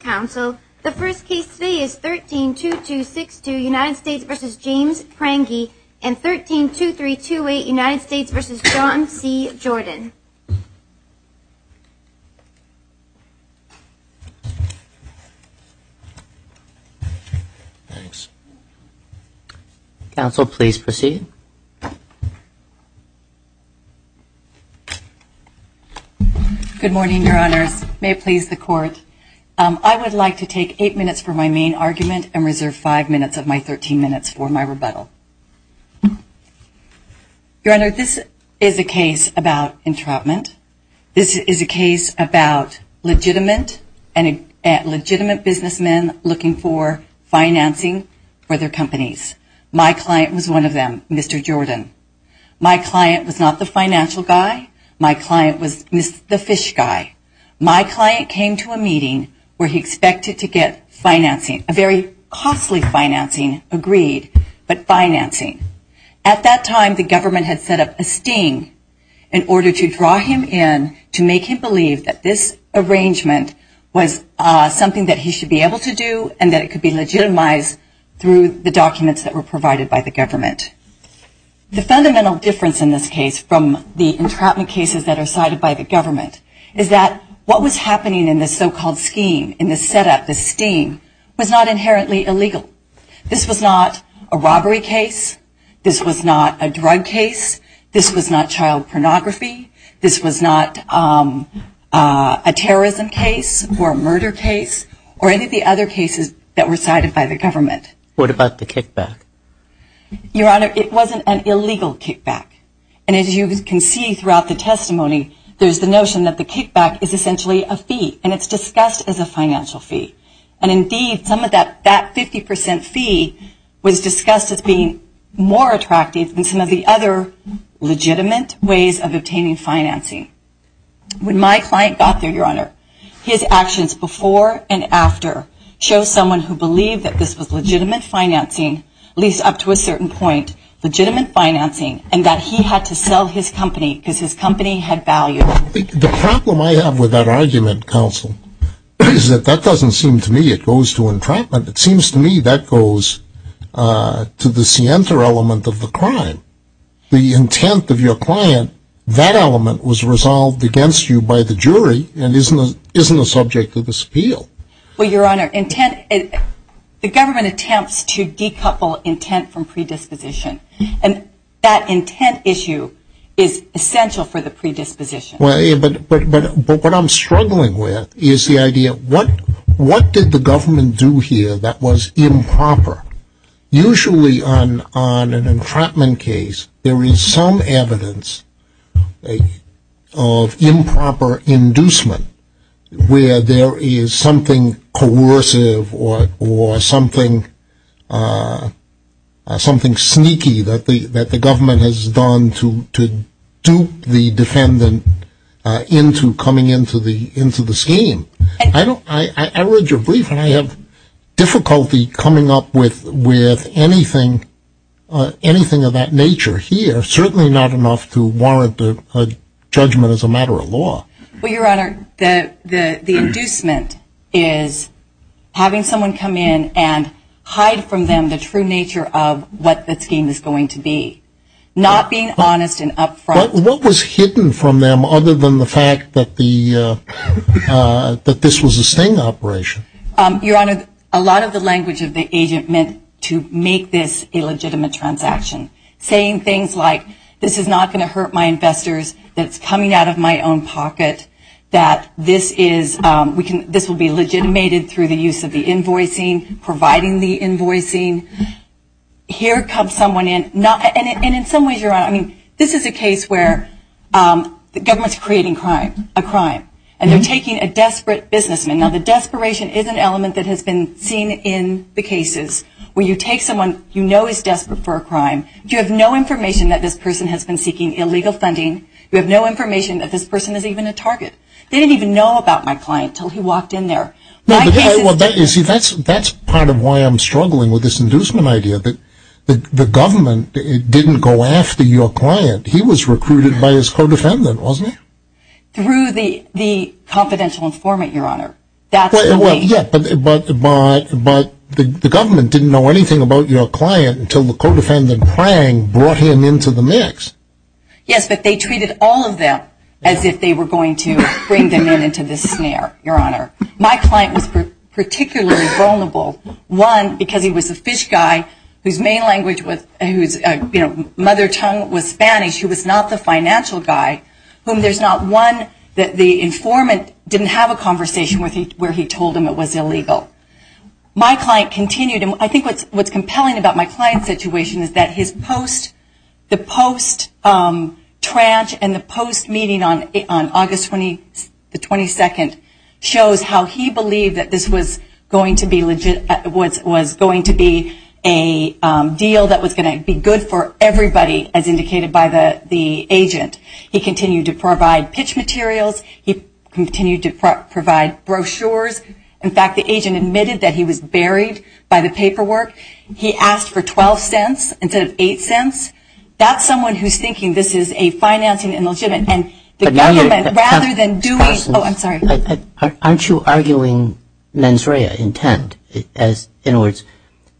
Council, the first case today is 13-2262 United States v. James Prange and 13-2328 United States v. John C. Jordan. Council, please proceed. Good morning, Your Honors. May it please the Court. I would like to take eight minutes for my main argument and reserve five minutes of my 13 minutes for my rebuttal. Your Honor, this is a case about entrapment. This is a case about legitimate businessmen looking for financing for their companies. My client was one of them, Mr. Jordan. My client was not the financial guy. My client was the fish guy. My client came to a meeting where he expected to get financing, a very costly financing agreed, but financing. At that time, the government had set up a sting in order to draw him in to make him believe that this arrangement was something that he should be able to do and that it could be legitimized through the documents that were provided by the government. The fundamental difference in this case from the entrapment cases that are cited by the government is that what was happening in this so-called scheme, in this setup, this sting, was not inherently illegal. This was not a robbery case. This was not a drug case. This was not child pornography. This was not a terrorism case or a murder case or any of the other cases that were cited by the government. What about the kickback? Your Honor, it wasn't an illegal kickback. And as you can see throughout the testimony, there's the notion that the kickback is essentially a fee and it's discussed as a financial fee. And indeed, some of that 50% fee was discussed as being more attractive than some of the other legitimate ways of obtaining financing. When my client got there, Your Honor, his actions before and after show someone who believed that this was legitimate financing, at least up to a certain point, legitimate financing, and that he had to sell his company because his company had value. The problem I have with that argument, counsel, is that that doesn't seem to me it goes to entrapment. It seems to me that goes to the scienter element of the crime. The intent of your client, that element was resolved against you by the jury and isn't a subject of this appeal. Well, Your Honor, the government attempts to decouple intent from predisposition. And that intent issue is essential for the predisposition. But what I'm struggling with is the idea of what did the government do here that was improper? Usually on an entrapment case, there is some evidence of improper inducement where there is something coercive or something sneaky that the government has done to dupe the defendant into coming into the scheme. I read your brief and I have difficulty coming up with anything of that nature here, certainly not enough to warrant a judgment as a matter of law. Well, Your Honor, the inducement is having someone come in and hide from them the true nature of what the scheme is going to be. Not being honest and upfront. What was hidden from them other than the fact that this was a sting operation? Your Honor, a lot of the language of the agent meant to make this a legitimate transaction. Saying things like this is not going to hurt my investors, that it's coming out of my own pocket, that this will be legitimated through the use of the invoicing, providing the invoicing. Here comes someone in. And in some ways, Your Honor, this is a case where the government is creating a crime. And they're taking a desperate businessman. Now, the desperation is an element that has been seen in the cases where you take someone you know is desperate for a crime. You have no information that this person has been seeking illegal funding. You have no information that this person is even a target. They didn't even know about my client until he walked in there. That's part of why I'm struggling with this inducement idea. The government didn't go after your client. He was recruited by his co-defendant, wasn't he? Through the confidential informant, Your Honor. But the government didn't know anything about your client until the co-defendant, Prang, brought him into the mix. Yes, but they treated all of them as if they were going to bring them into this snare, Your Honor. My client was particularly vulnerable. One, because he was a fish guy whose mother tongue was Spanish. He was not the financial guy. There's not one that the informant didn't have a conversation with where he told him it was illegal. My client continued, and I think what's compelling about my client's situation is that the post-trash and the post-meeting on August 22nd shows how he believed that this was going to be a deal that was going to be good for everybody, as indicated by the agent. He continued to provide pitch materials. He continued to provide brochures. In fact, the agent admitted that he was buried by the paperwork. He asked for $0.12 instead of $0.08. That's someone who's thinking this is a financing illegitimate. And the government, rather than doing... Oh, I'm sorry. Aren't you arguing mens rea intent? In other words,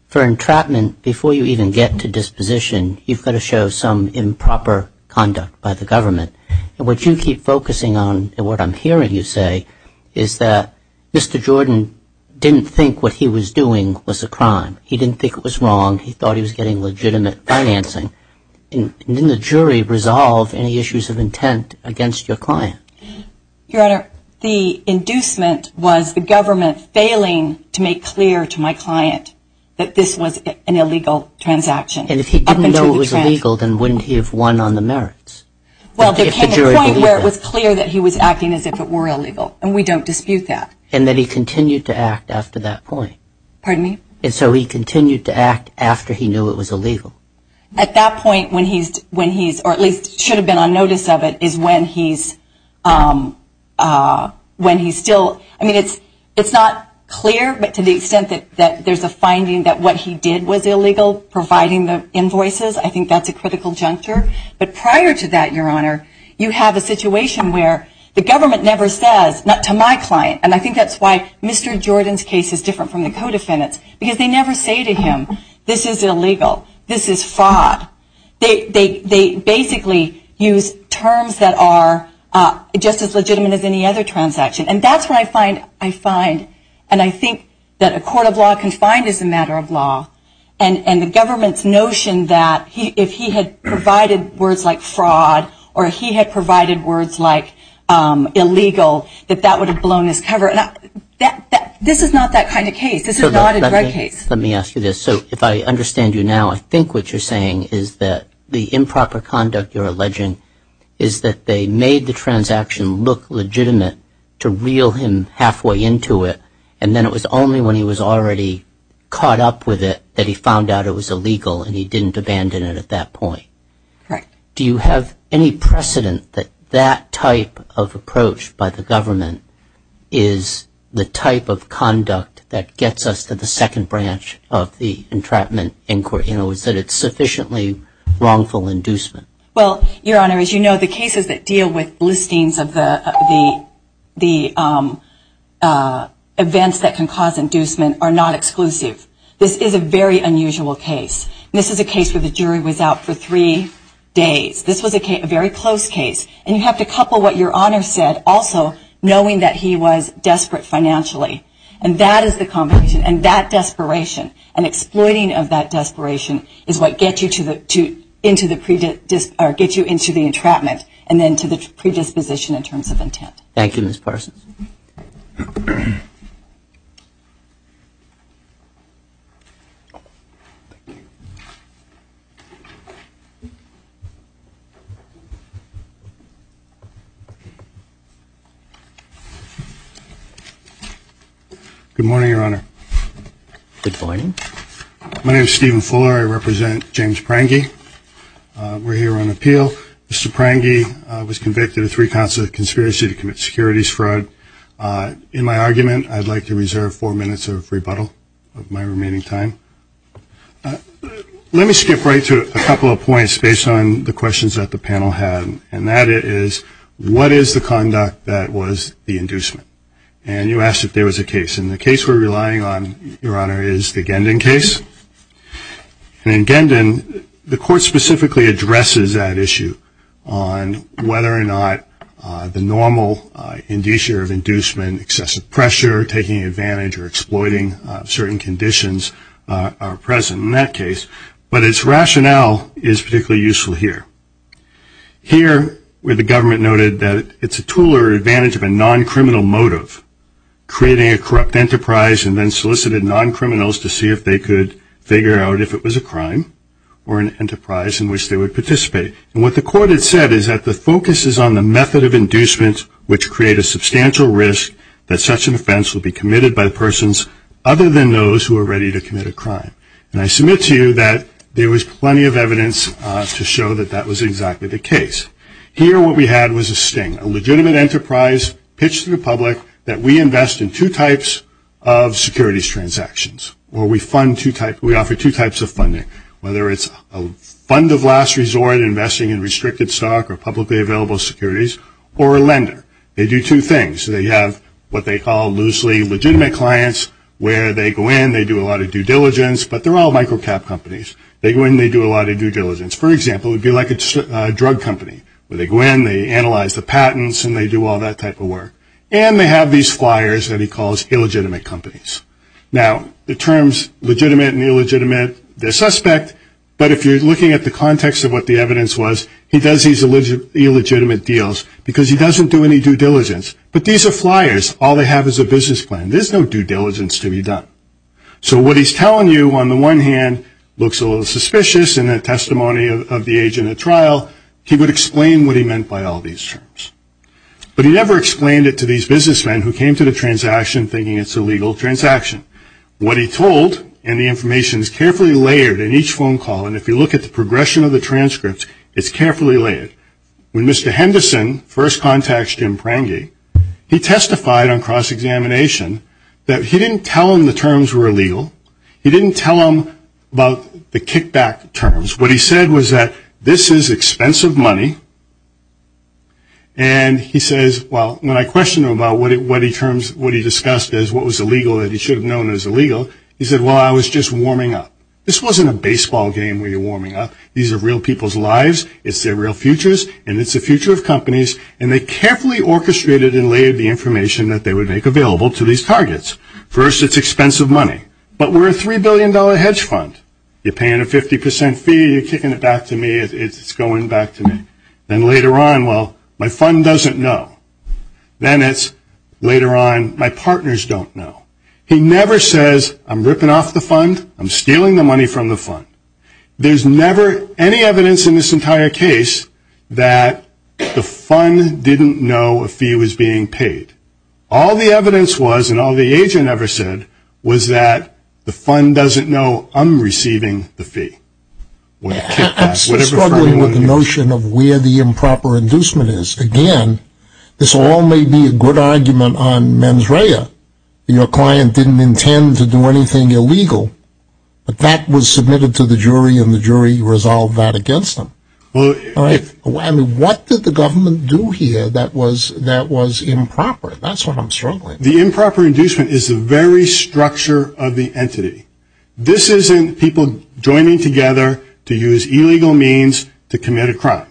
for entrapment, before you even get to disposition, you've got to show some improper conduct by the government. And what you keep focusing on, and what I'm hearing you say, is that Mr. Jordan didn't think what he was doing was a crime. He didn't think it was wrong. He thought he was getting legitimate financing. Didn't the jury resolve any issues of intent against your client? Your Honor, the inducement was the government failing to make clear to my client that this was an illegal transaction. And if he didn't know it was illegal, then wouldn't he have won on the merits? Well, there came a point where it was clear that he was acting as if it were illegal, and we don't dispute that. And that he continued to act after that point. Pardon me? And so he continued to act after he knew it was illegal. At that point, when he's, or at least should have been on notice of it, is when he's still... I mean, it's not clear, but to the extent that there's a finding that what he did was illegal, providing the invoices, I think that's a critical juncture. But prior to that, Your Honor, you have a situation where the government never says, not to my client, and I think that's why Mr. Jordan's case is different from the co-defendant's, because they never say to him, this is illegal, this is fraud. They basically use terms that are just as legitimate as any other transaction. And that's where I find, and I think that a court of law can find as a matter of law, and the government's notion that if he had provided words like fraud or he had provided words like illegal, that that would have blown his cover. This is not that kind of case. This is not a drug case. Let me ask you this. So if I understand you now, I think what you're saying is that the improper conduct that you're alleging is that they made the transaction look legitimate to reel him halfway into it, and then it was only when he was already caught up with it that he found out it was illegal and he didn't abandon it at that point. Correct. Do you have any precedent that that type of approach by the government is the type of conduct that gets us to the second branch of the entrapment inquiry? You know, is that it's sufficiently wrongful inducement? Well, Your Honor, as you know, the cases that deal with listings of the events that can cause inducement are not exclusive. This is a very unusual case. This is a case where the jury was out for three days. This was a very close case. And you have to couple what Your Honor said also, knowing that he was desperate financially. And that is the combination. And that desperation and exploiting of that desperation is what gets you into the entrapment and then to the predisposition in terms of intent. Thank you, Ms. Parsons. Good morning, Your Honor. Good morning. My name is Stephen Fuller. I represent James Prange. We're here on appeal. Mr. Prange was convicted of three counts of conspiracy to commit securities fraud. In my argument, I'd like to reserve four minutes of rebuttal of my remaining time. Let me skip right to a couple of points based on the questions that the panel had, and that is what is the conduct that was the inducement? And you asked if there was a case. And the case we're relying on, Your Honor, is the Gendon case. And in Gendon, the court specifically addresses that issue on whether or not the normal indicia of inducement, excessive pressure, taking advantage or exploiting certain conditions are present in that case. But its rationale is particularly useful here. Here where the government noted that it's a tool or advantage of a non-criminal motive, creating a corrupt enterprise and then solicited non-criminals to see if they could figure out if it was a crime or an enterprise in which they would participate. And what the court had said is that the focus is on the method of inducement which create a substantial risk that such an offense will be committed by persons other than those who are ready to commit a crime. And I submit to you that there was plenty of evidence to show that that was exactly the case. Here what we had was a sting, a legitimate enterprise pitched to the public that we invest in two types of securities transactions, or we offer two types of funding, whether it's a fund of last resort, investing in restricted stock or publicly available securities, or a lender. They do two things. They have what they call loosely legitimate clients where they go in, they do a lot of due diligence, but they're all micro-cap companies. They go in, they do a lot of due diligence. For example, it would be like a drug company where they go in, they analyze the patents, and they do all that type of work. And they have these flyers that he calls illegitimate companies. Now, the terms legitimate and illegitimate, they're suspect, but if you're looking at the context of what the evidence was, he does these illegitimate deals because he doesn't do any due diligence. But these are flyers. All they have is a business plan. There's no due diligence to be done. So what he's telling you, on the one hand, looks a little suspicious in the testimony of the agent at trial. He would explain what he meant by all these terms. But he never explained it to these businessmen who came to the transaction thinking it's a legal transaction. What he told, and the information is carefully layered in each phone call, and if you look at the progression of the transcripts, it's carefully layered. When Mr. Henderson first contacts Jim Prange, he testified on cross-examination that he didn't tell him the terms were illegal. He didn't tell him about the kickback terms. What he said was that this is expensive money, and he says, well, when I questioned him about what he discussed as what was illegal that he should have known was illegal, he said, well, I was just warming up. This wasn't a baseball game where you're warming up. These are real people's lives. It's their real futures, and it's the future of companies. And they carefully orchestrated and layered the information that they would make available to these targets. First, it's expensive money, but we're a $3 billion hedge fund. You're paying a 50% fee, you're kicking it back to me, it's going back to me. Then later on, well, my fund doesn't know. Then it's later on, my partners don't know. He never says, I'm ripping off the fund, I'm stealing the money from the fund. There's never any evidence in this entire case that the fund didn't know a fee was being paid. All the evidence was and all the agent ever said was that the fund doesn't know I'm receiving the fee. I'm struggling with the notion of where the improper inducement is. Again, this all may be a good argument on mens rea. Your client didn't intend to do anything illegal. But that was submitted to the jury, and the jury resolved that against them. What did the government do here that was improper? That's what I'm struggling with. The improper inducement is the very structure of the entity. This isn't people joining together to use illegal means to commit a crime.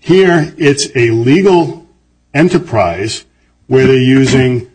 Here, it's a legal enterprise where they're using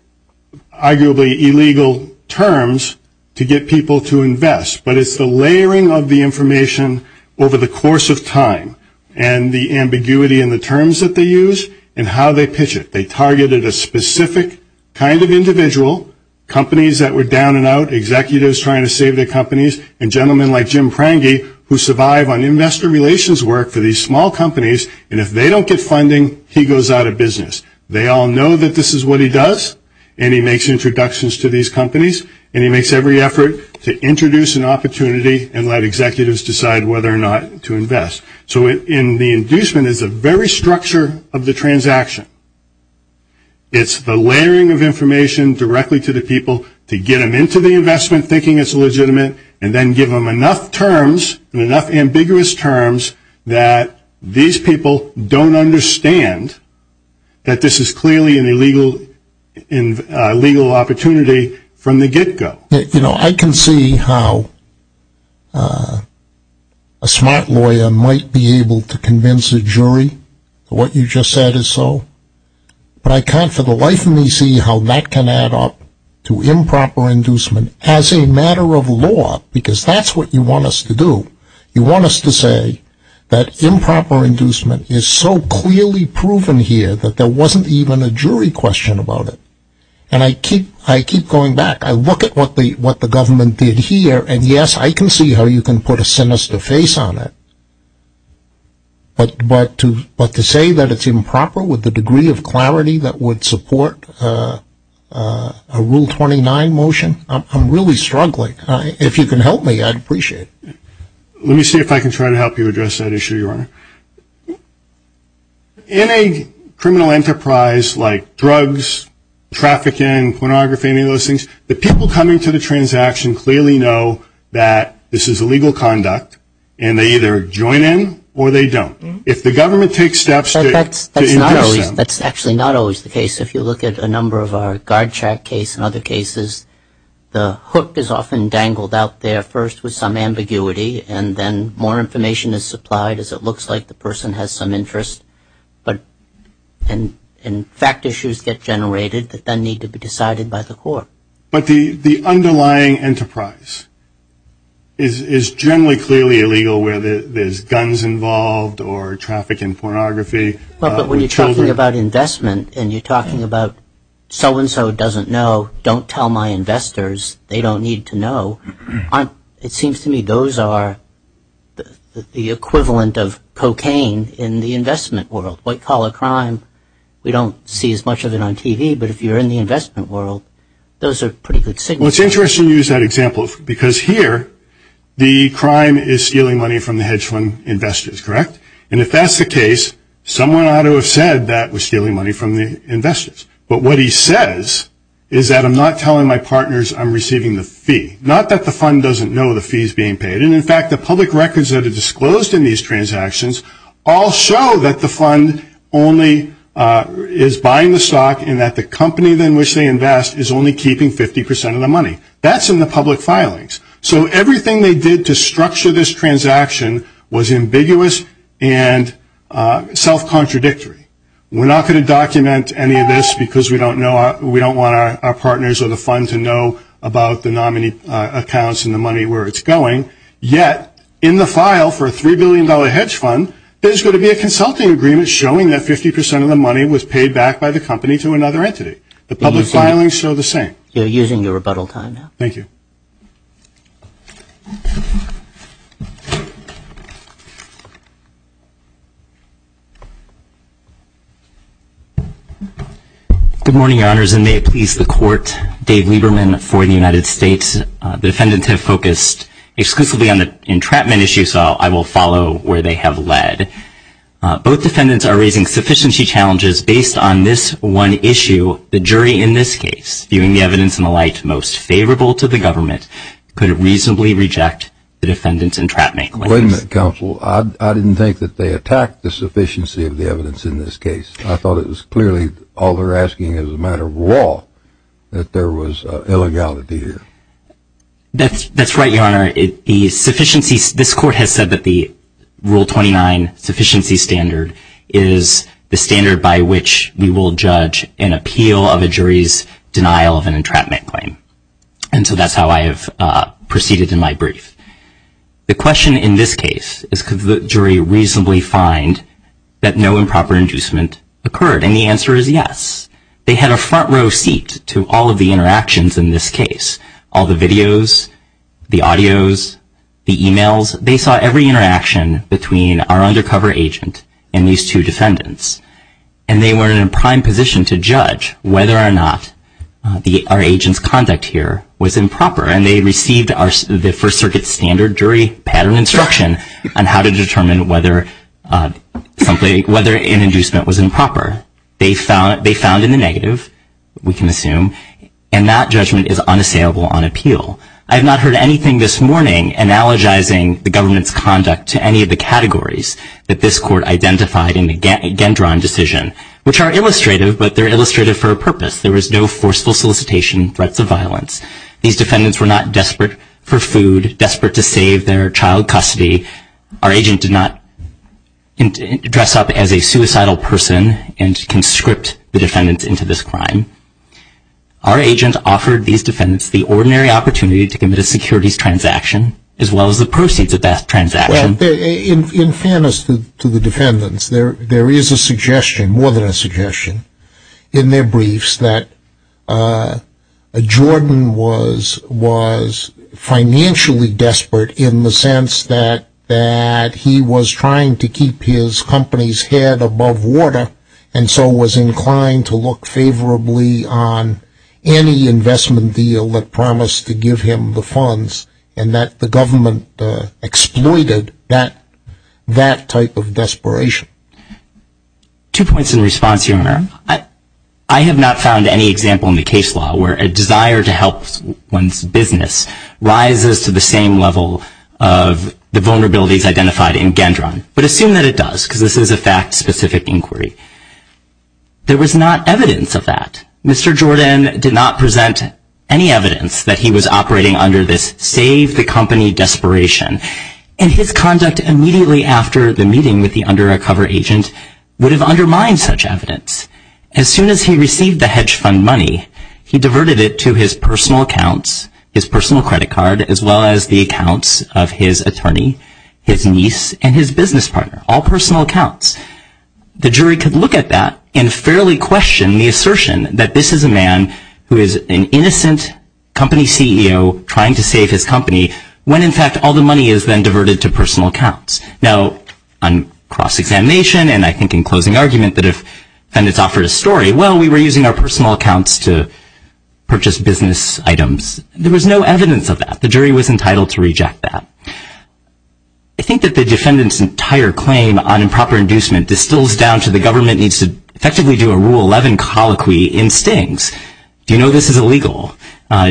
arguably illegal terms to get people to invest. But it's the layering of the information over the course of time and the ambiguity in the terms that they use and how they pitch it. They targeted a specific kind of individual, companies that were down and out, executives trying to save their companies, and gentlemen like Jim Prange who survive on investor relations work for these small companies, and if they don't get funding, he goes out of business. They all know that this is what he does, and he makes introductions to these companies, and he makes every effort to introduce an opportunity and let executives decide whether or not to invest. So the inducement is the very structure of the transaction. It's the layering of information directly to the people to get them into the investment thinking it's legitimate, and then give them enough terms and enough ambiguous terms that these people don't understand that this is clearly an illegal opportunity from the get-go. You know, I can see how a smart lawyer might be able to convince a jury what you just said is so, but I can't for the life of me see how that can add up to improper inducement as a matter of law, because that's what you want us to do. You want us to say that improper inducement is so clearly proven here that there wasn't even a jury question about it, and I keep going back. I look at what the government did here, and yes, I can see how you can put a sinister face on it, but to say that it's improper with the degree of clarity that would support a Rule 29 motion, I'm really struggling. If you can help me, I'd appreciate it. Let me see if I can try to help you address that issue, Your Honor. In a criminal enterprise like drugs, trafficking, pornography, any of those things, the people coming to the transaction clearly know that this is illegal conduct, and they either join in or they don't. If the government takes steps to induce them. That's actually not always the case. If you look at a number of our guard track case and other cases, the hook is often dangled out there first with some ambiguity, and then more information is supplied as it looks like the person has some interest, and fact issues get generated that then need to be decided by the court. But the underlying enterprise is generally clearly illegal where there's guns involved or traffic and pornography. But when you're talking about investment and you're talking about so-and-so doesn't know, don't tell my investors, they don't need to know, it seems to me those are the equivalent of cocaine in the investment world. White-collar crime, we don't see as much of it on TV, but if you're in the investment world, those are pretty good signals. Well, it's interesting you use that example, because here the crime is stealing money from the hedge fund investors, correct? And if that's the case, someone ought to have said that was stealing money from the investors. But what he says is that I'm not telling my partners I'm receiving the fee. Not that the fund doesn't know the fee is being paid. And, in fact, the public records that are disclosed in these transactions all show that the fund only is buying the stock and that the company in which they invest is only keeping 50 percent of the money. That's in the public filings. So everything they did to structure this transaction was ambiguous and self-contradictory. We're not going to document any of this, because we don't want our partners or the fund to know about the nominee accounts and the money where it's going. Yet, in the file for a $3 billion hedge fund, there's going to be a consulting agreement showing that 50 percent of the money was paid back by the company to another entity. The public filings show the same. You're using your rebuttal time now. Thank you. Good morning, Your Honors, and may it please the Court. Dave Lieberman for the United States. The defendants have focused exclusively on the entrapment issue, so I will follow where they have led. Both defendants are raising sufficiency challenges based on this one issue. The jury in this case, viewing the evidence in the light most favorable to the government, could reasonably reject the defendants' entrapment claims. Wait a minute, Counsel. I didn't think that they attacked the sufficiency of the evidence in this case. I thought it was clearly all they're asking is a matter of law, that there was illegality here. That's right, Your Honor. This Court has said that the Rule 29 sufficiency standard is the standard by which we will judge an appeal of a jury's denial of an entrapment claim. And so that's how I have proceeded in my brief. The question in this case is could the jury reasonably find that no improper inducement occurred? And the answer is yes. They had a front row seat to all of the interactions in this case, all the videos, the audios, the e-mails. They saw every interaction between our undercover agent and these two defendants. And they were in a prime position to judge whether or not our agent's conduct here was improper, and they received the First Circuit's standard jury pattern instruction on how to determine whether an inducement was improper. They found in the negative, we can assume, and that judgment is unassailable on appeal. I have not heard anything this morning analogizing the government's conduct to any of the categories that this Court identified in the Gendron decision, which are illustrative, but they're illustrative for a purpose. There was no forceful solicitation, threats of violence. These defendants were not desperate for food, desperate to save their child custody. Our agent did not dress up as a suicidal person and conscript the defendants into this crime. Our agent offered these defendants the ordinary opportunity to commit a securities transaction as well as the proceeds of that transaction. Well, in fairness to the defendants, there is a suggestion, more than a suggestion, in their briefs, that Jordan was financially desperate in the sense that he was trying to keep his company's head above water and so was inclined to look favorably on any investment deal that promised to give him the funds, and that the government exploited that type of desperation. I have not found any example in the case law where a desire to help one's business rises to the same level of the vulnerabilities identified in Gendron, but assume that it does because this is a fact-specific inquiry. There was not evidence of that. Mr. Jordan did not present any evidence that he was operating under this save-the-company desperation, and his conduct immediately after the meeting with the undercover agent would have undermined such evidence. As soon as he received the hedge fund money, he diverted it to his personal accounts, his personal credit card, as well as the accounts of his attorney, his niece, and his business partner, all personal accounts. The jury could look at that and fairly question the assertion that this is a man who is an innocent company CEO trying to save his company when, in fact, all the money is then diverted to personal accounts. Now, on cross-examination and I think in closing argument that if defendants offered a story, well, we were using our personal accounts to purchase business items. There was no evidence of that. The jury was entitled to reject that. I think that the defendant's entire claim on improper inducement distills down to the government needs to effectively do a Rule 11 colloquy in Sting's. Do you know this is illegal?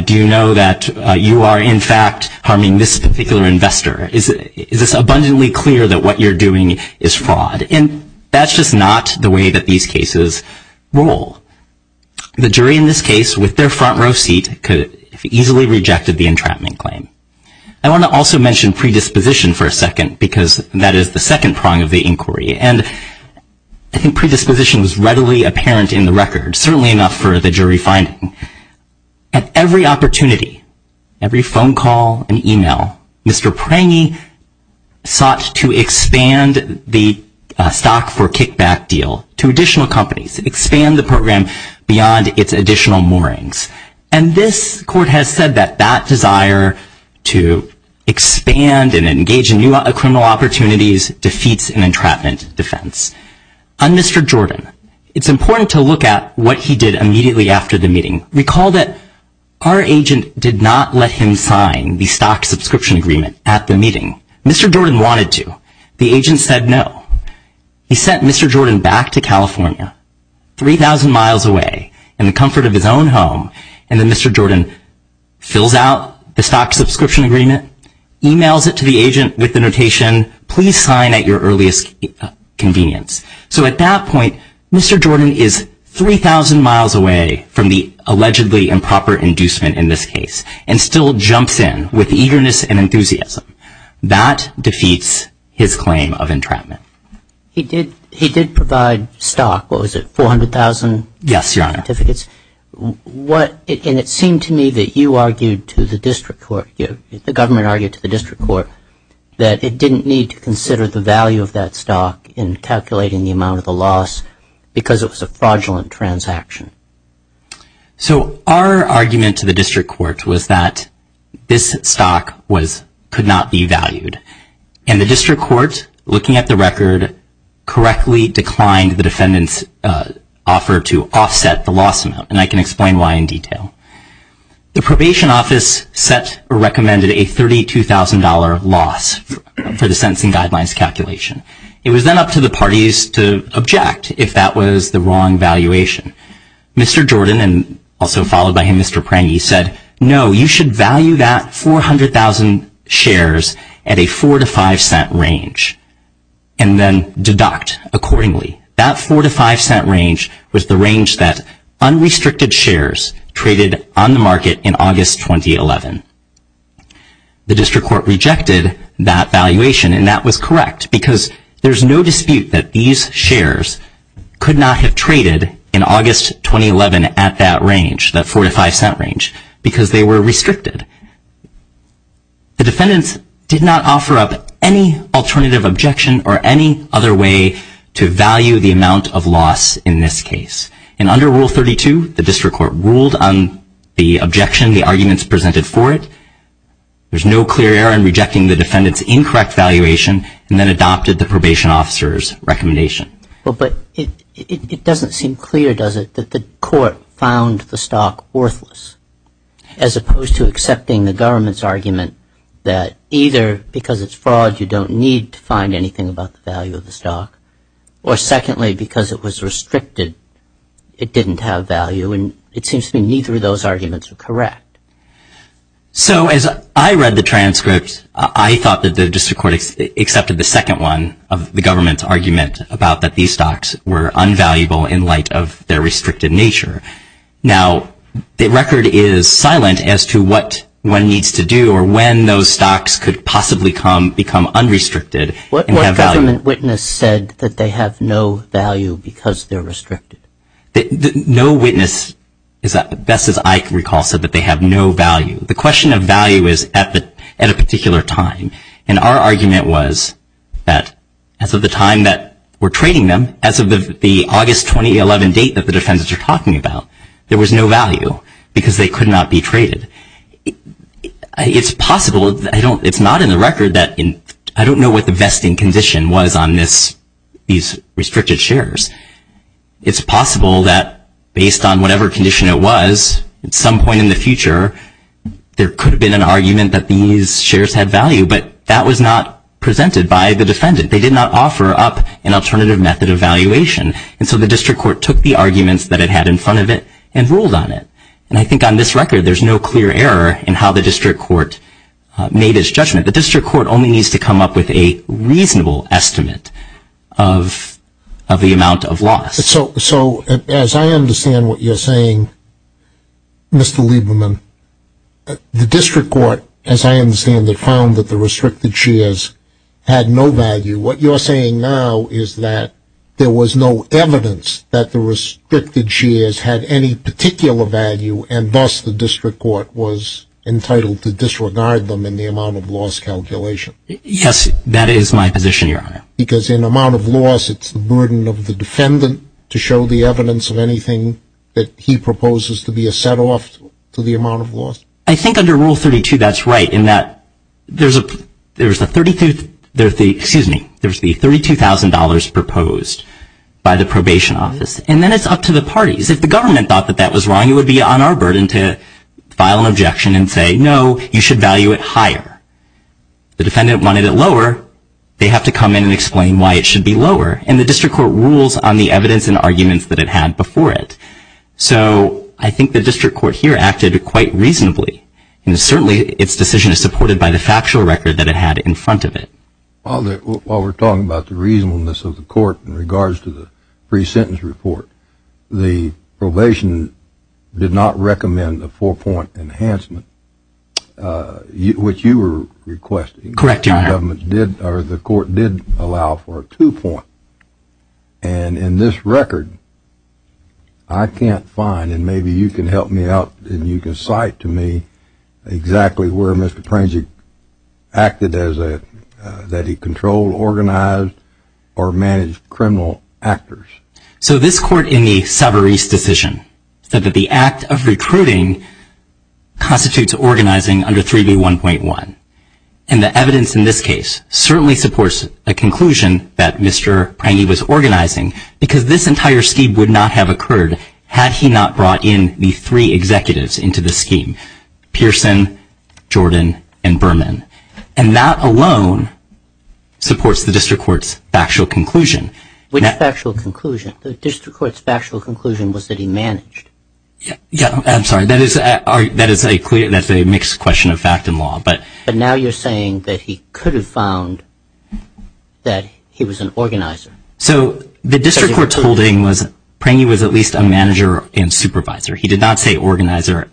Do you know that you are, in fact, harming this particular investor? Is this abundantly clear that what you're doing is fraud? And that's just not the way that these cases roll. The jury in this case, with their front row seat, easily rejected the entrapment claim. I want to also mention predisposition for a second because that is the second prong of the inquiry. And I think predisposition is readily apparent in the record, certainly enough for the jury finding. At every opportunity, every phone call and email, Mr. Prangy sought to expand the stock for kickback deal to additional companies, expand the program beyond its additional moorings. And this court has said that that desire to expand and engage in new criminal opportunities defeats an entrapment defense. On Mr. Jordan, it's important to look at what he did immediately after the meeting. Recall that our agent did not let him sign the stock subscription agreement at the meeting. Mr. Jordan wanted to. The agent said no. He sent Mr. Jordan back to California, 3,000 miles away, in the comfort of his own home. And then Mr. Jordan fills out the stock subscription agreement, emails it to the agent with the notation, please sign at your earliest convenience. So at that point, Mr. Jordan is 3,000 miles away from the allegedly improper inducement in this case and still jumps in with eagerness and enthusiasm. That defeats his claim of entrapment. He did provide stock. What was it, 400,000 certificates? Yes, Your Honor. And it seemed to me that you argued to the district court, the government argued to the district court, that it didn't need to consider the value of that stock in calculating the amount of the loss because it was a fraudulent transaction. So our argument to the district court was that this stock could not be valued. And the district court, looking at the record, correctly declined the defendant's offer to offset the loss amount. And I can explain why in detail. The probation office set or recommended a $32,000 loss for the sentencing guidelines calculation. It was then up to the parties to object if that was the wrong valuation. Mr. Jordan, and also followed by him, Mr. Prang, he said, no, you should value that 400,000 shares at a $0.04 to $0.05 range and then deduct accordingly. That $0.04 to $0.05 range was the range that unrestricted shares traded on the market in August 2011. The district court rejected that valuation and that was correct because there's no dispute that these shares could not have traded in August 2011 at that range, that $0.04 to $0.05 range, because they were restricted. The defendants did not offer up any alternative objection or any other way to value the amount of loss in this case. And under Rule 32, the district court ruled on the objection, the arguments presented for it. There's no clear error in rejecting the defendant's incorrect valuation and then adopted the probation officer's recommendation. But it doesn't seem clear, does it, that the court found the stock worthless, as opposed to accepting the government's argument that either because it's fraud you don't need to find anything about the value of the stock, or secondly, because it was restricted, it didn't have value. And it seems to me neither of those arguments are correct. So as I read the transcript, I thought that the district court accepted the second one of the government's argument about that these stocks were unvaluable in light of their restricted nature. Now, the record is silent as to what one needs to do or when those stocks could possibly become unrestricted and have value. The government witness said that they have no value because they're restricted. No witness, best as I recall, said that they have no value. The question of value is at a particular time. And our argument was that as of the time that we're trading them, as of the August 2011 date that the defendants are talking about, there was no value because they could not be traded. It's possible. It's not in the record that I don't know what the vesting condition was on these restricted shares. It's possible that based on whatever condition it was, at some point in the future there could have been an argument that these shares had value, but that was not presented by the defendant. They did not offer up an alternative method of valuation. And so the district court took the arguments that it had in front of it and ruled on it. And I think on this record there's no clear error in how the district court made its judgment. The district court only needs to come up with a reasonable estimate of the amount of loss. So as I understand what you're saying, Mr. Lieberman, the district court, as I understand it, found that the restricted shares had no value. What you're saying now is that there was no evidence that the restricted shares had any particular value, and thus the district court was entitled to disregard them in the amount of loss calculation. Yes, that is my position, Your Honor. Because in amount of loss it's the burden of the defendant to show the evidence of anything that he proposes to be a set-off to the amount of loss? I think under Rule 32 that's right in that there's the $32,000 proposed by the probation office. And then it's up to the parties. If the government thought that that was wrong, it would be on our burden to file an objection and say, no, you should value it higher. The defendant wanted it lower. They have to come in and explain why it should be lower. And the district court rules on the evidence and arguments that it had before it. So I think the district court here acted quite reasonably. And certainly its decision is supported by the factual record that it had in front of it. While we're talking about the reasonableness of the court in regards to the pre-sentence report, the probation did not recommend a four-point enhancement, which you were requesting. Correct, Your Honor. The court did allow for a two-point. And in this record, I can't find, and maybe you can help me out and you can cite to me exactly where Mr. Prangek acted that he controlled, organized, or managed criminal actors. So this court in the Savarese decision said that the act of recruiting constitutes organizing under 3B1.1. And the evidence in this case certainly supports a conclusion that Mr. Prangek was organizing because this entire scheme would not have occurred had he not brought in the three executives into the scheme, Pearson, Jordan, and Berman. And that alone supports the district court's factual conclusion. Which factual conclusion? The district court's factual conclusion was that he managed. Yeah, I'm sorry. That is a mixed question of fact and law. But now you're saying that he could have found that he was an organizer. So the district court's holding was Prangek was at least a manager and supervisor. He did not say organizer.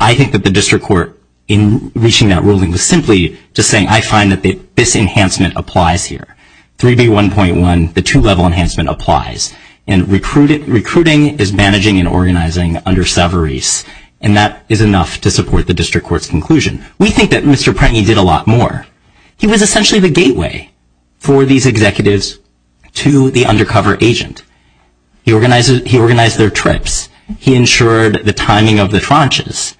I think that the district court in reaching that ruling was simply just saying, I find that this enhancement applies here. 3B1.1, the two-level enhancement applies. And recruiting is managing and organizing under Savarese. And that is enough to support the district court's conclusion. We think that Mr. Prangek did a lot more. He was essentially the gateway for these executives to the undercover agent. He organized their trips. He ensured the timing of the tranches.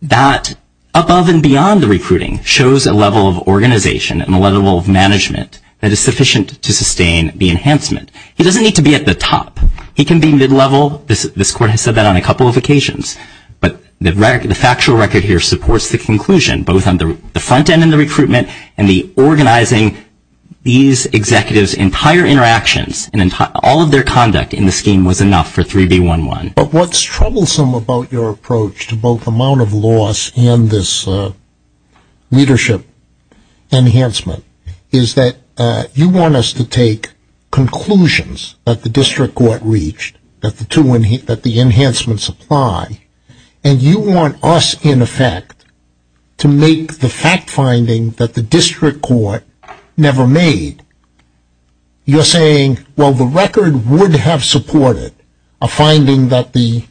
That, above and beyond the recruiting, shows a level of organization and a level of management that is sufficient to sustain the enhancement. He doesn't need to be at the top. He can be mid-level. This court has said that on a couple of occasions. But the factual record here supports the conclusion, both on the front end and the recruitment and the organizing these executives' entire interactions and all of their conduct in the scheme was enough for 3B1.1. But what's troublesome about your approach to both amount of loss and this leadership enhancement is that you want us to take conclusions that the district court reached, that the enhancements apply, and you want us, in effect, to make the fact finding that the district court never made. You're saying, well, the record would have supported a finding that the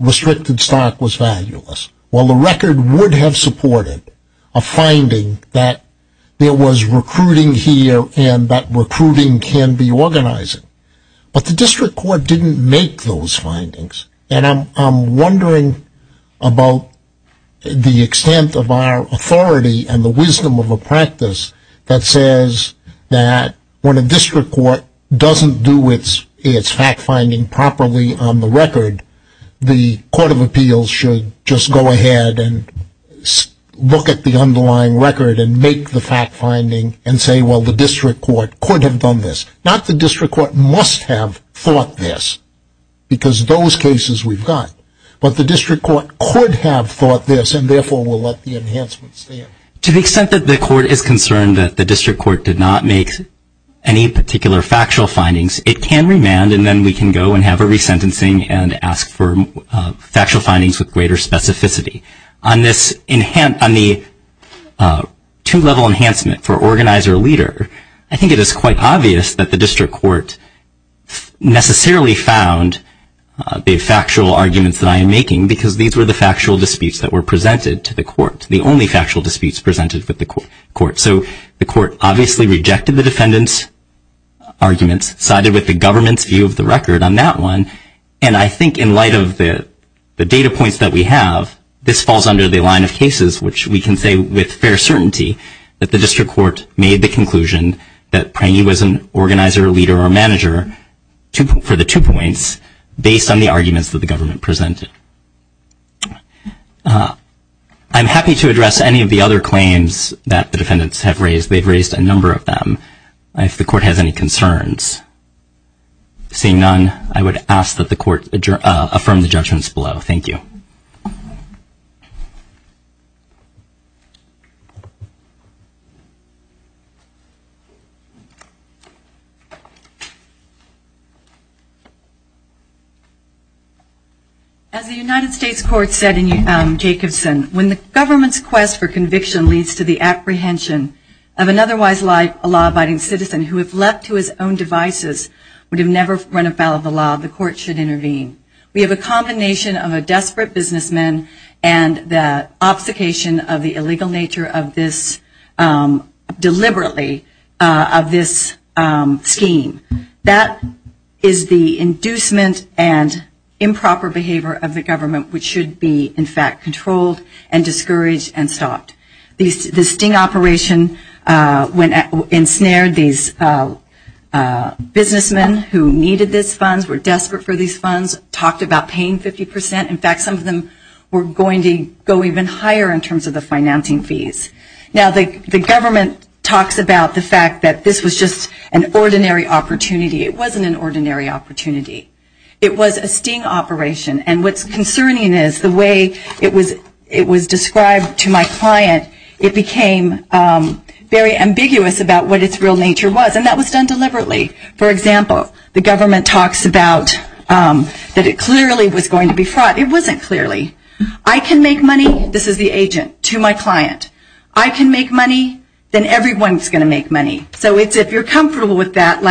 restricted stock was valueless. Well, the record would have supported a finding that there was recruiting here and that recruiting can be organizing. But the district court didn't make those findings. And I'm wondering about the extent of our authority and the wisdom of a practice that says that when a district court doesn't do its fact finding properly on the record, the court of appeals should just go ahead and look at the underlying record and make the fact finding and say, well, the district court could have done this. Not the district court must have thought this, because those cases we've got. But the district court could have thought this, and therefore will let the enhancements stand. To the extent that the court is concerned that the district court did not make any particular factual findings, it can remand, and then we can go and have a resentencing and ask for factual findings with greater specificity. On the two-level enhancement for organizer-leader, I think it is quite obvious that the district court necessarily found the factual arguments that I am making, because these were the factual disputes that were presented to the court, the only factual disputes presented with the court. So the court obviously rejected the defendant's arguments, sided with the government's view of the record on that one, and I think in light of the data points that we have, this falls under the line of cases which we can say with fair certainty that the district court made the conclusion that Prangee was an organizer-leader or manager for the two points, based on the arguments that the government presented. I'm happy to address any of the other claims that the defendants have raised. They've raised a number of them. If the court has any concerns. Seeing none, I would ask that the court affirm the judgments below. Thank you. As the United States court said in Jacobson, when the government's quest for conviction leads to the apprehension of an otherwise law-abiding citizen who, if left to his own devices, would have never run afoul of the law, the court should intervene. We have a combination of a desperate businessman and the obfuscation of the illegal nature deliberately of this scheme. That is the inducement and improper behavior of the government which should be in fact controlled and discouraged and stopped. The sting operation ensnared these businessmen who needed these funds, were desperate for these funds, talked about paying 50%. In fact, some of them were going to go even higher in terms of the financing fees. Now, the government talks about the fact that this was just an ordinary opportunity. It wasn't an ordinary opportunity. It was a sting operation. And what's concerning is the way it was described to my client, it became very ambiguous about what its real nature was. And that was done deliberately. For example, the government talks about that it clearly was going to be fraught. It wasn't clearly. I can make money, this is the agent, to my client. I can make money, then everyone's going to make money. So if you're comfortable with that,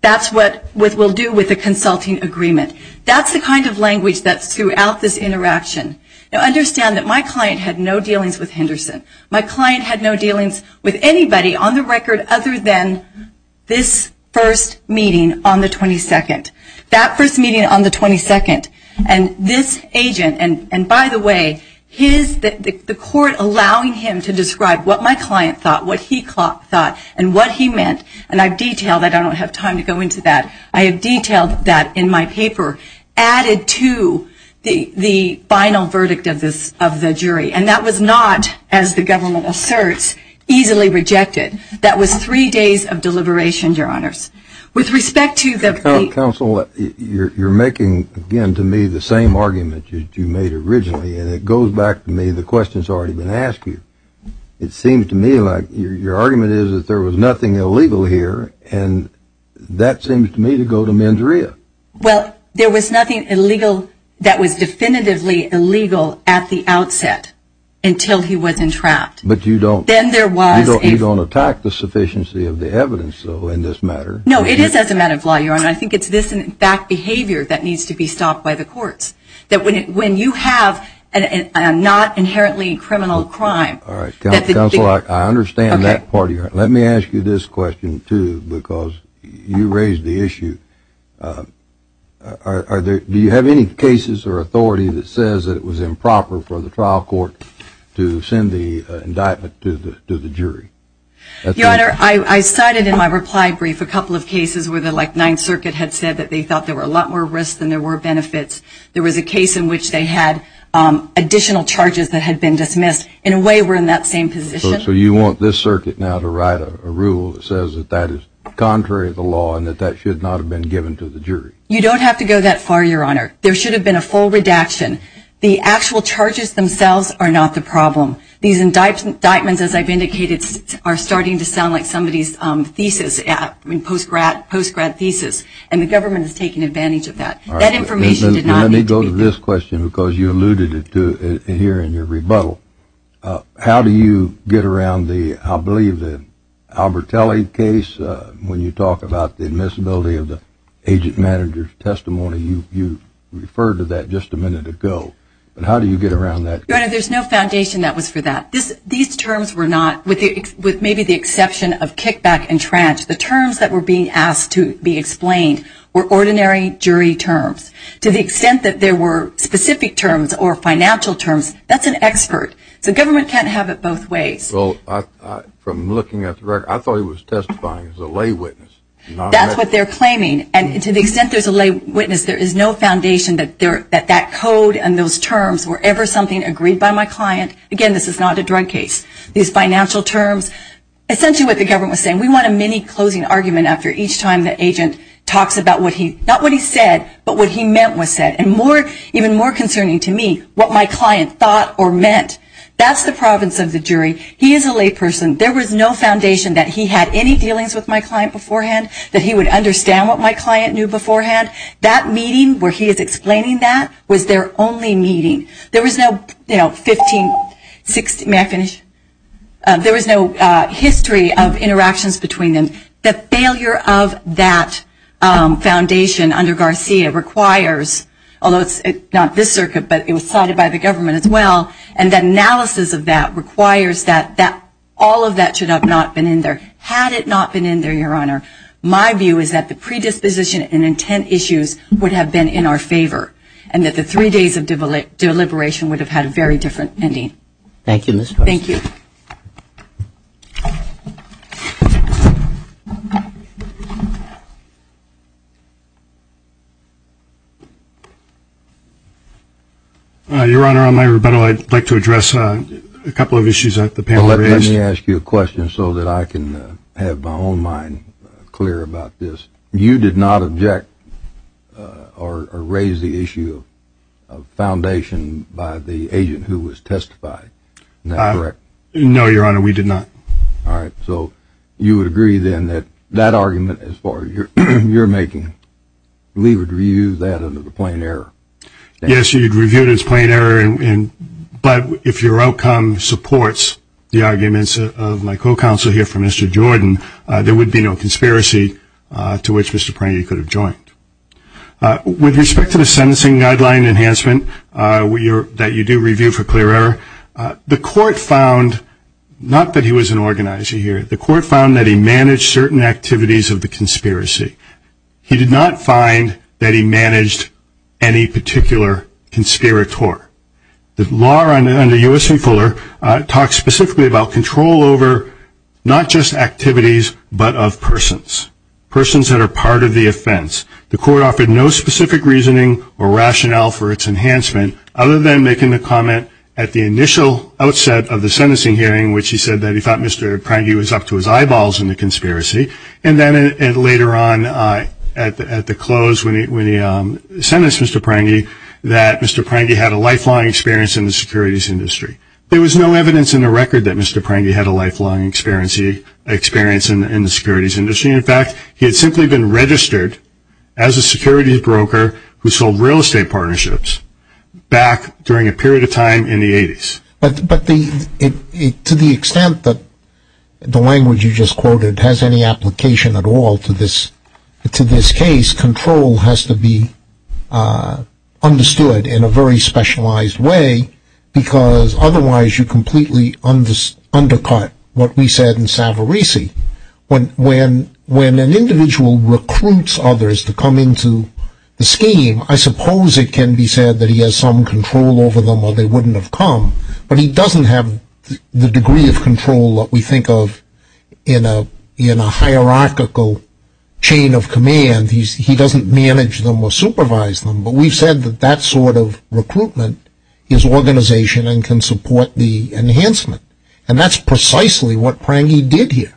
that's what we'll do with a consulting agreement. That's the kind of language that's throughout this interaction. Now, understand that my client had no dealings with Henderson. My client had no dealings with anybody on the record other than this first meeting on the 22nd. That first meeting on the 22nd, and this agent, and by the way, the court allowing him to describe what my client thought, what he thought, and what he meant, and I've detailed that. I don't have time to go into that. I have detailed that in my paper added to the final verdict of the jury. And that was not, as the government asserts, easily rejected. That was three days of deliberation, Your Honors. Counsel, you're making, again, to me the same argument that you made originally, and it goes back to me, the question's already been asked you. It seems to me like your argument is that there was nothing illegal here, and that seems to me to go to mens rea. Well, there was nothing illegal that was definitively illegal at the outset until he was entrapped. But you don't attack the sufficiency of the evidence, though, in this matter. No, it is as a matter of law, Your Honor. I think it's this in fact behavior that needs to be stopped by the courts, that when you have a not inherently criminal crime. Counsel, I understand that part of your argument. Let me ask you this question, too, because you raised the issue. Do you have any cases or authority that says that it was improper for the trial court to send the indictment to the jury? Your Honor, I cited in my reply brief a couple of cases where the Ninth Circuit had said that they thought there were a lot more risks than there were benefits. There was a case in which they had additional charges that had been dismissed. In a way, we're in that same position. So you want this circuit now to write a rule that says that that is contrary to the law and that that should not have been given to the jury? You don't have to go that far, Your Honor. There should have been a full redaction. The actual charges themselves are not the problem. These indictments, as I've indicated, are starting to sound like somebody's thesis, post-grad thesis, and the government is taking advantage of that. That information did not need to be given. Let me go to this question because you alluded to it here in your rebuttal. How do you get around the, I believe, the Albertelli case when you talk about the admissibility of the agent manager's testimony? You referred to that just a minute ago. But how do you get around that? Your Honor, there's no foundation that was for that. These terms were not, with maybe the exception of kickback and tranche, the terms that were being asked to be explained were ordinary jury terms. To the extent that there were specific terms or financial terms, that's an expert. So government can't have it both ways. Well, from looking at the record, I thought he was testifying as a lay witness. That's what they're claiming. And to the extent there's a lay witness, there is no foundation that that code and those terms were ever something agreed by my client. Again, this is not a drug case. These financial terms, essentially what the government was saying, we want a mini closing argument after each time the agent talks about what he, not what he said, but what he meant was said. And even more concerning to me, what my client thought or meant. That's the province of the jury. He is a lay person. There was no foundation that he had any dealings with my client beforehand, that he would understand what my client knew beforehand. That meeting where he is explaining that was their only meeting. There was no history of interactions between them. The failure of that foundation under Garcia requires, although it's not this circuit, but it was cited by the government as well, and the analysis of that requires that all of that should have not been in there. Had it not been in there, Your Honor, my view is that the predisposition and intent issues would have been in our favor and that the three days of deliberation would have had a very different ending. Thank you, Ms. Foster. Thank you. Your Honor, on my rebuttal, I'd like to address a couple of issues that the panel raised. Let me ask you a question so that I can have my own mind clear about this. You did not object or raise the issue of foundation by the agent who was testified. Is that correct? No, Your Honor, we did not. All right. So you would agree then that that argument, as far as you're making, we would review that under the plain error. Yes, you'd review it as plain error, but if your outcome supports the arguments of my co-counsel here from Mr. Jordan, there would be no conspiracy to which Mr. Pranghi could have joined. With respect to the sentencing guideline enhancement that you do review for clear error, the court found not that he was an organizer here. The court found that he managed certain activities of the conspiracy. He did not find that he managed any particular conspirator. The law under U.S.C. Fuller talks specifically about control over not just activities, but of persons, persons that are part of the offense. The court offered no specific reasoning or rationale for its enhancement, other than making the comment at the initial outset of the sentencing hearing, which he said that he thought Mr. Pranghi was up to his eyeballs in the conspiracy, and then later on at the close when he sentenced Mr. Pranghi, that Mr. Pranghi had a lifelong experience in the securities industry. There was no evidence in the record that Mr. Pranghi had a lifelong experience in the securities industry. In fact, he had simply been registered as a securities broker who sold real estate partnerships back during a period of time in the 80s. But to the extent that the language you just quoted has any application at all to this case, control has to be understood in a very specialized way, because otherwise you completely undercut what we said in Savarese. When an individual recruits others to come into the scheme, I suppose it can be said that he has some control over them or they wouldn't have come, but he doesn't have the degree of control that we think of in a hierarchical chain of command. He doesn't manage them or supervise them, but we've said that that sort of recruitment is organization and can support the enhancement, and that's precisely what Pranghi did here,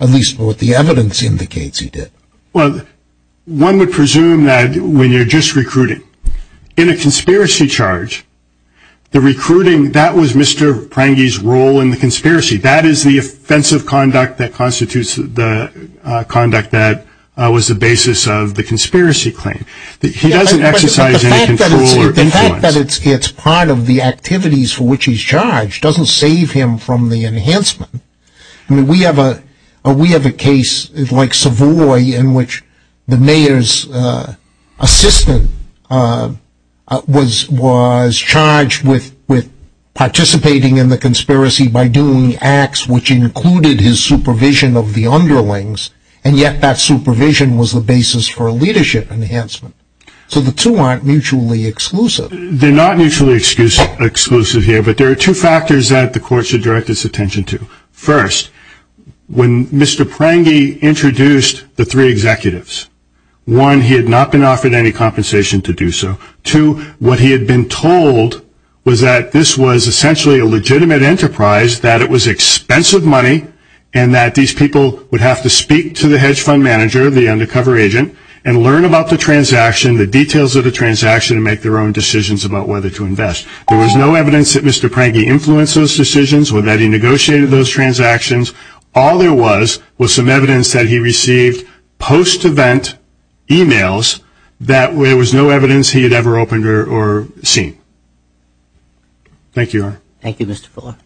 at least what the evidence indicates he did. Well, one would presume that when you're just recruiting, in a conspiracy charge, the recruiting, that was Mr. Pranghi's role in the conspiracy. That is the offensive conduct that constitutes the conduct that was the basis of the conspiracy claim. He doesn't exercise any control or influence. The fact that it's part of the activities for which he's charged doesn't save him from the enhancement. We have a case like Savoy in which the mayor's assistant was charged with participating in the conspiracy by doing acts which included his supervision of the underlings, and yet that supervision was the basis for a leadership enhancement. So the two aren't mutually exclusive. They're not mutually exclusive here, but there are two factors that the court should direct its attention to. First, when Mr. Pranghi introduced the three executives, one, he had not been offered any compensation to do so. Two, what he had been told was that this was essentially a legitimate enterprise, that it was expensive money, and that these people would have to speak to the hedge fund manager, the undercover agent, and learn about the transaction, the details of the transaction, and make their own decisions about whether to invest. There was no evidence that Mr. Pranghi influenced those decisions or that he negotiated those transactions. All there was was some evidence that he received post-event emails that there was no evidence he had ever opened or seen. Thank you, Your Honor. Thank you, Mr. Fuller.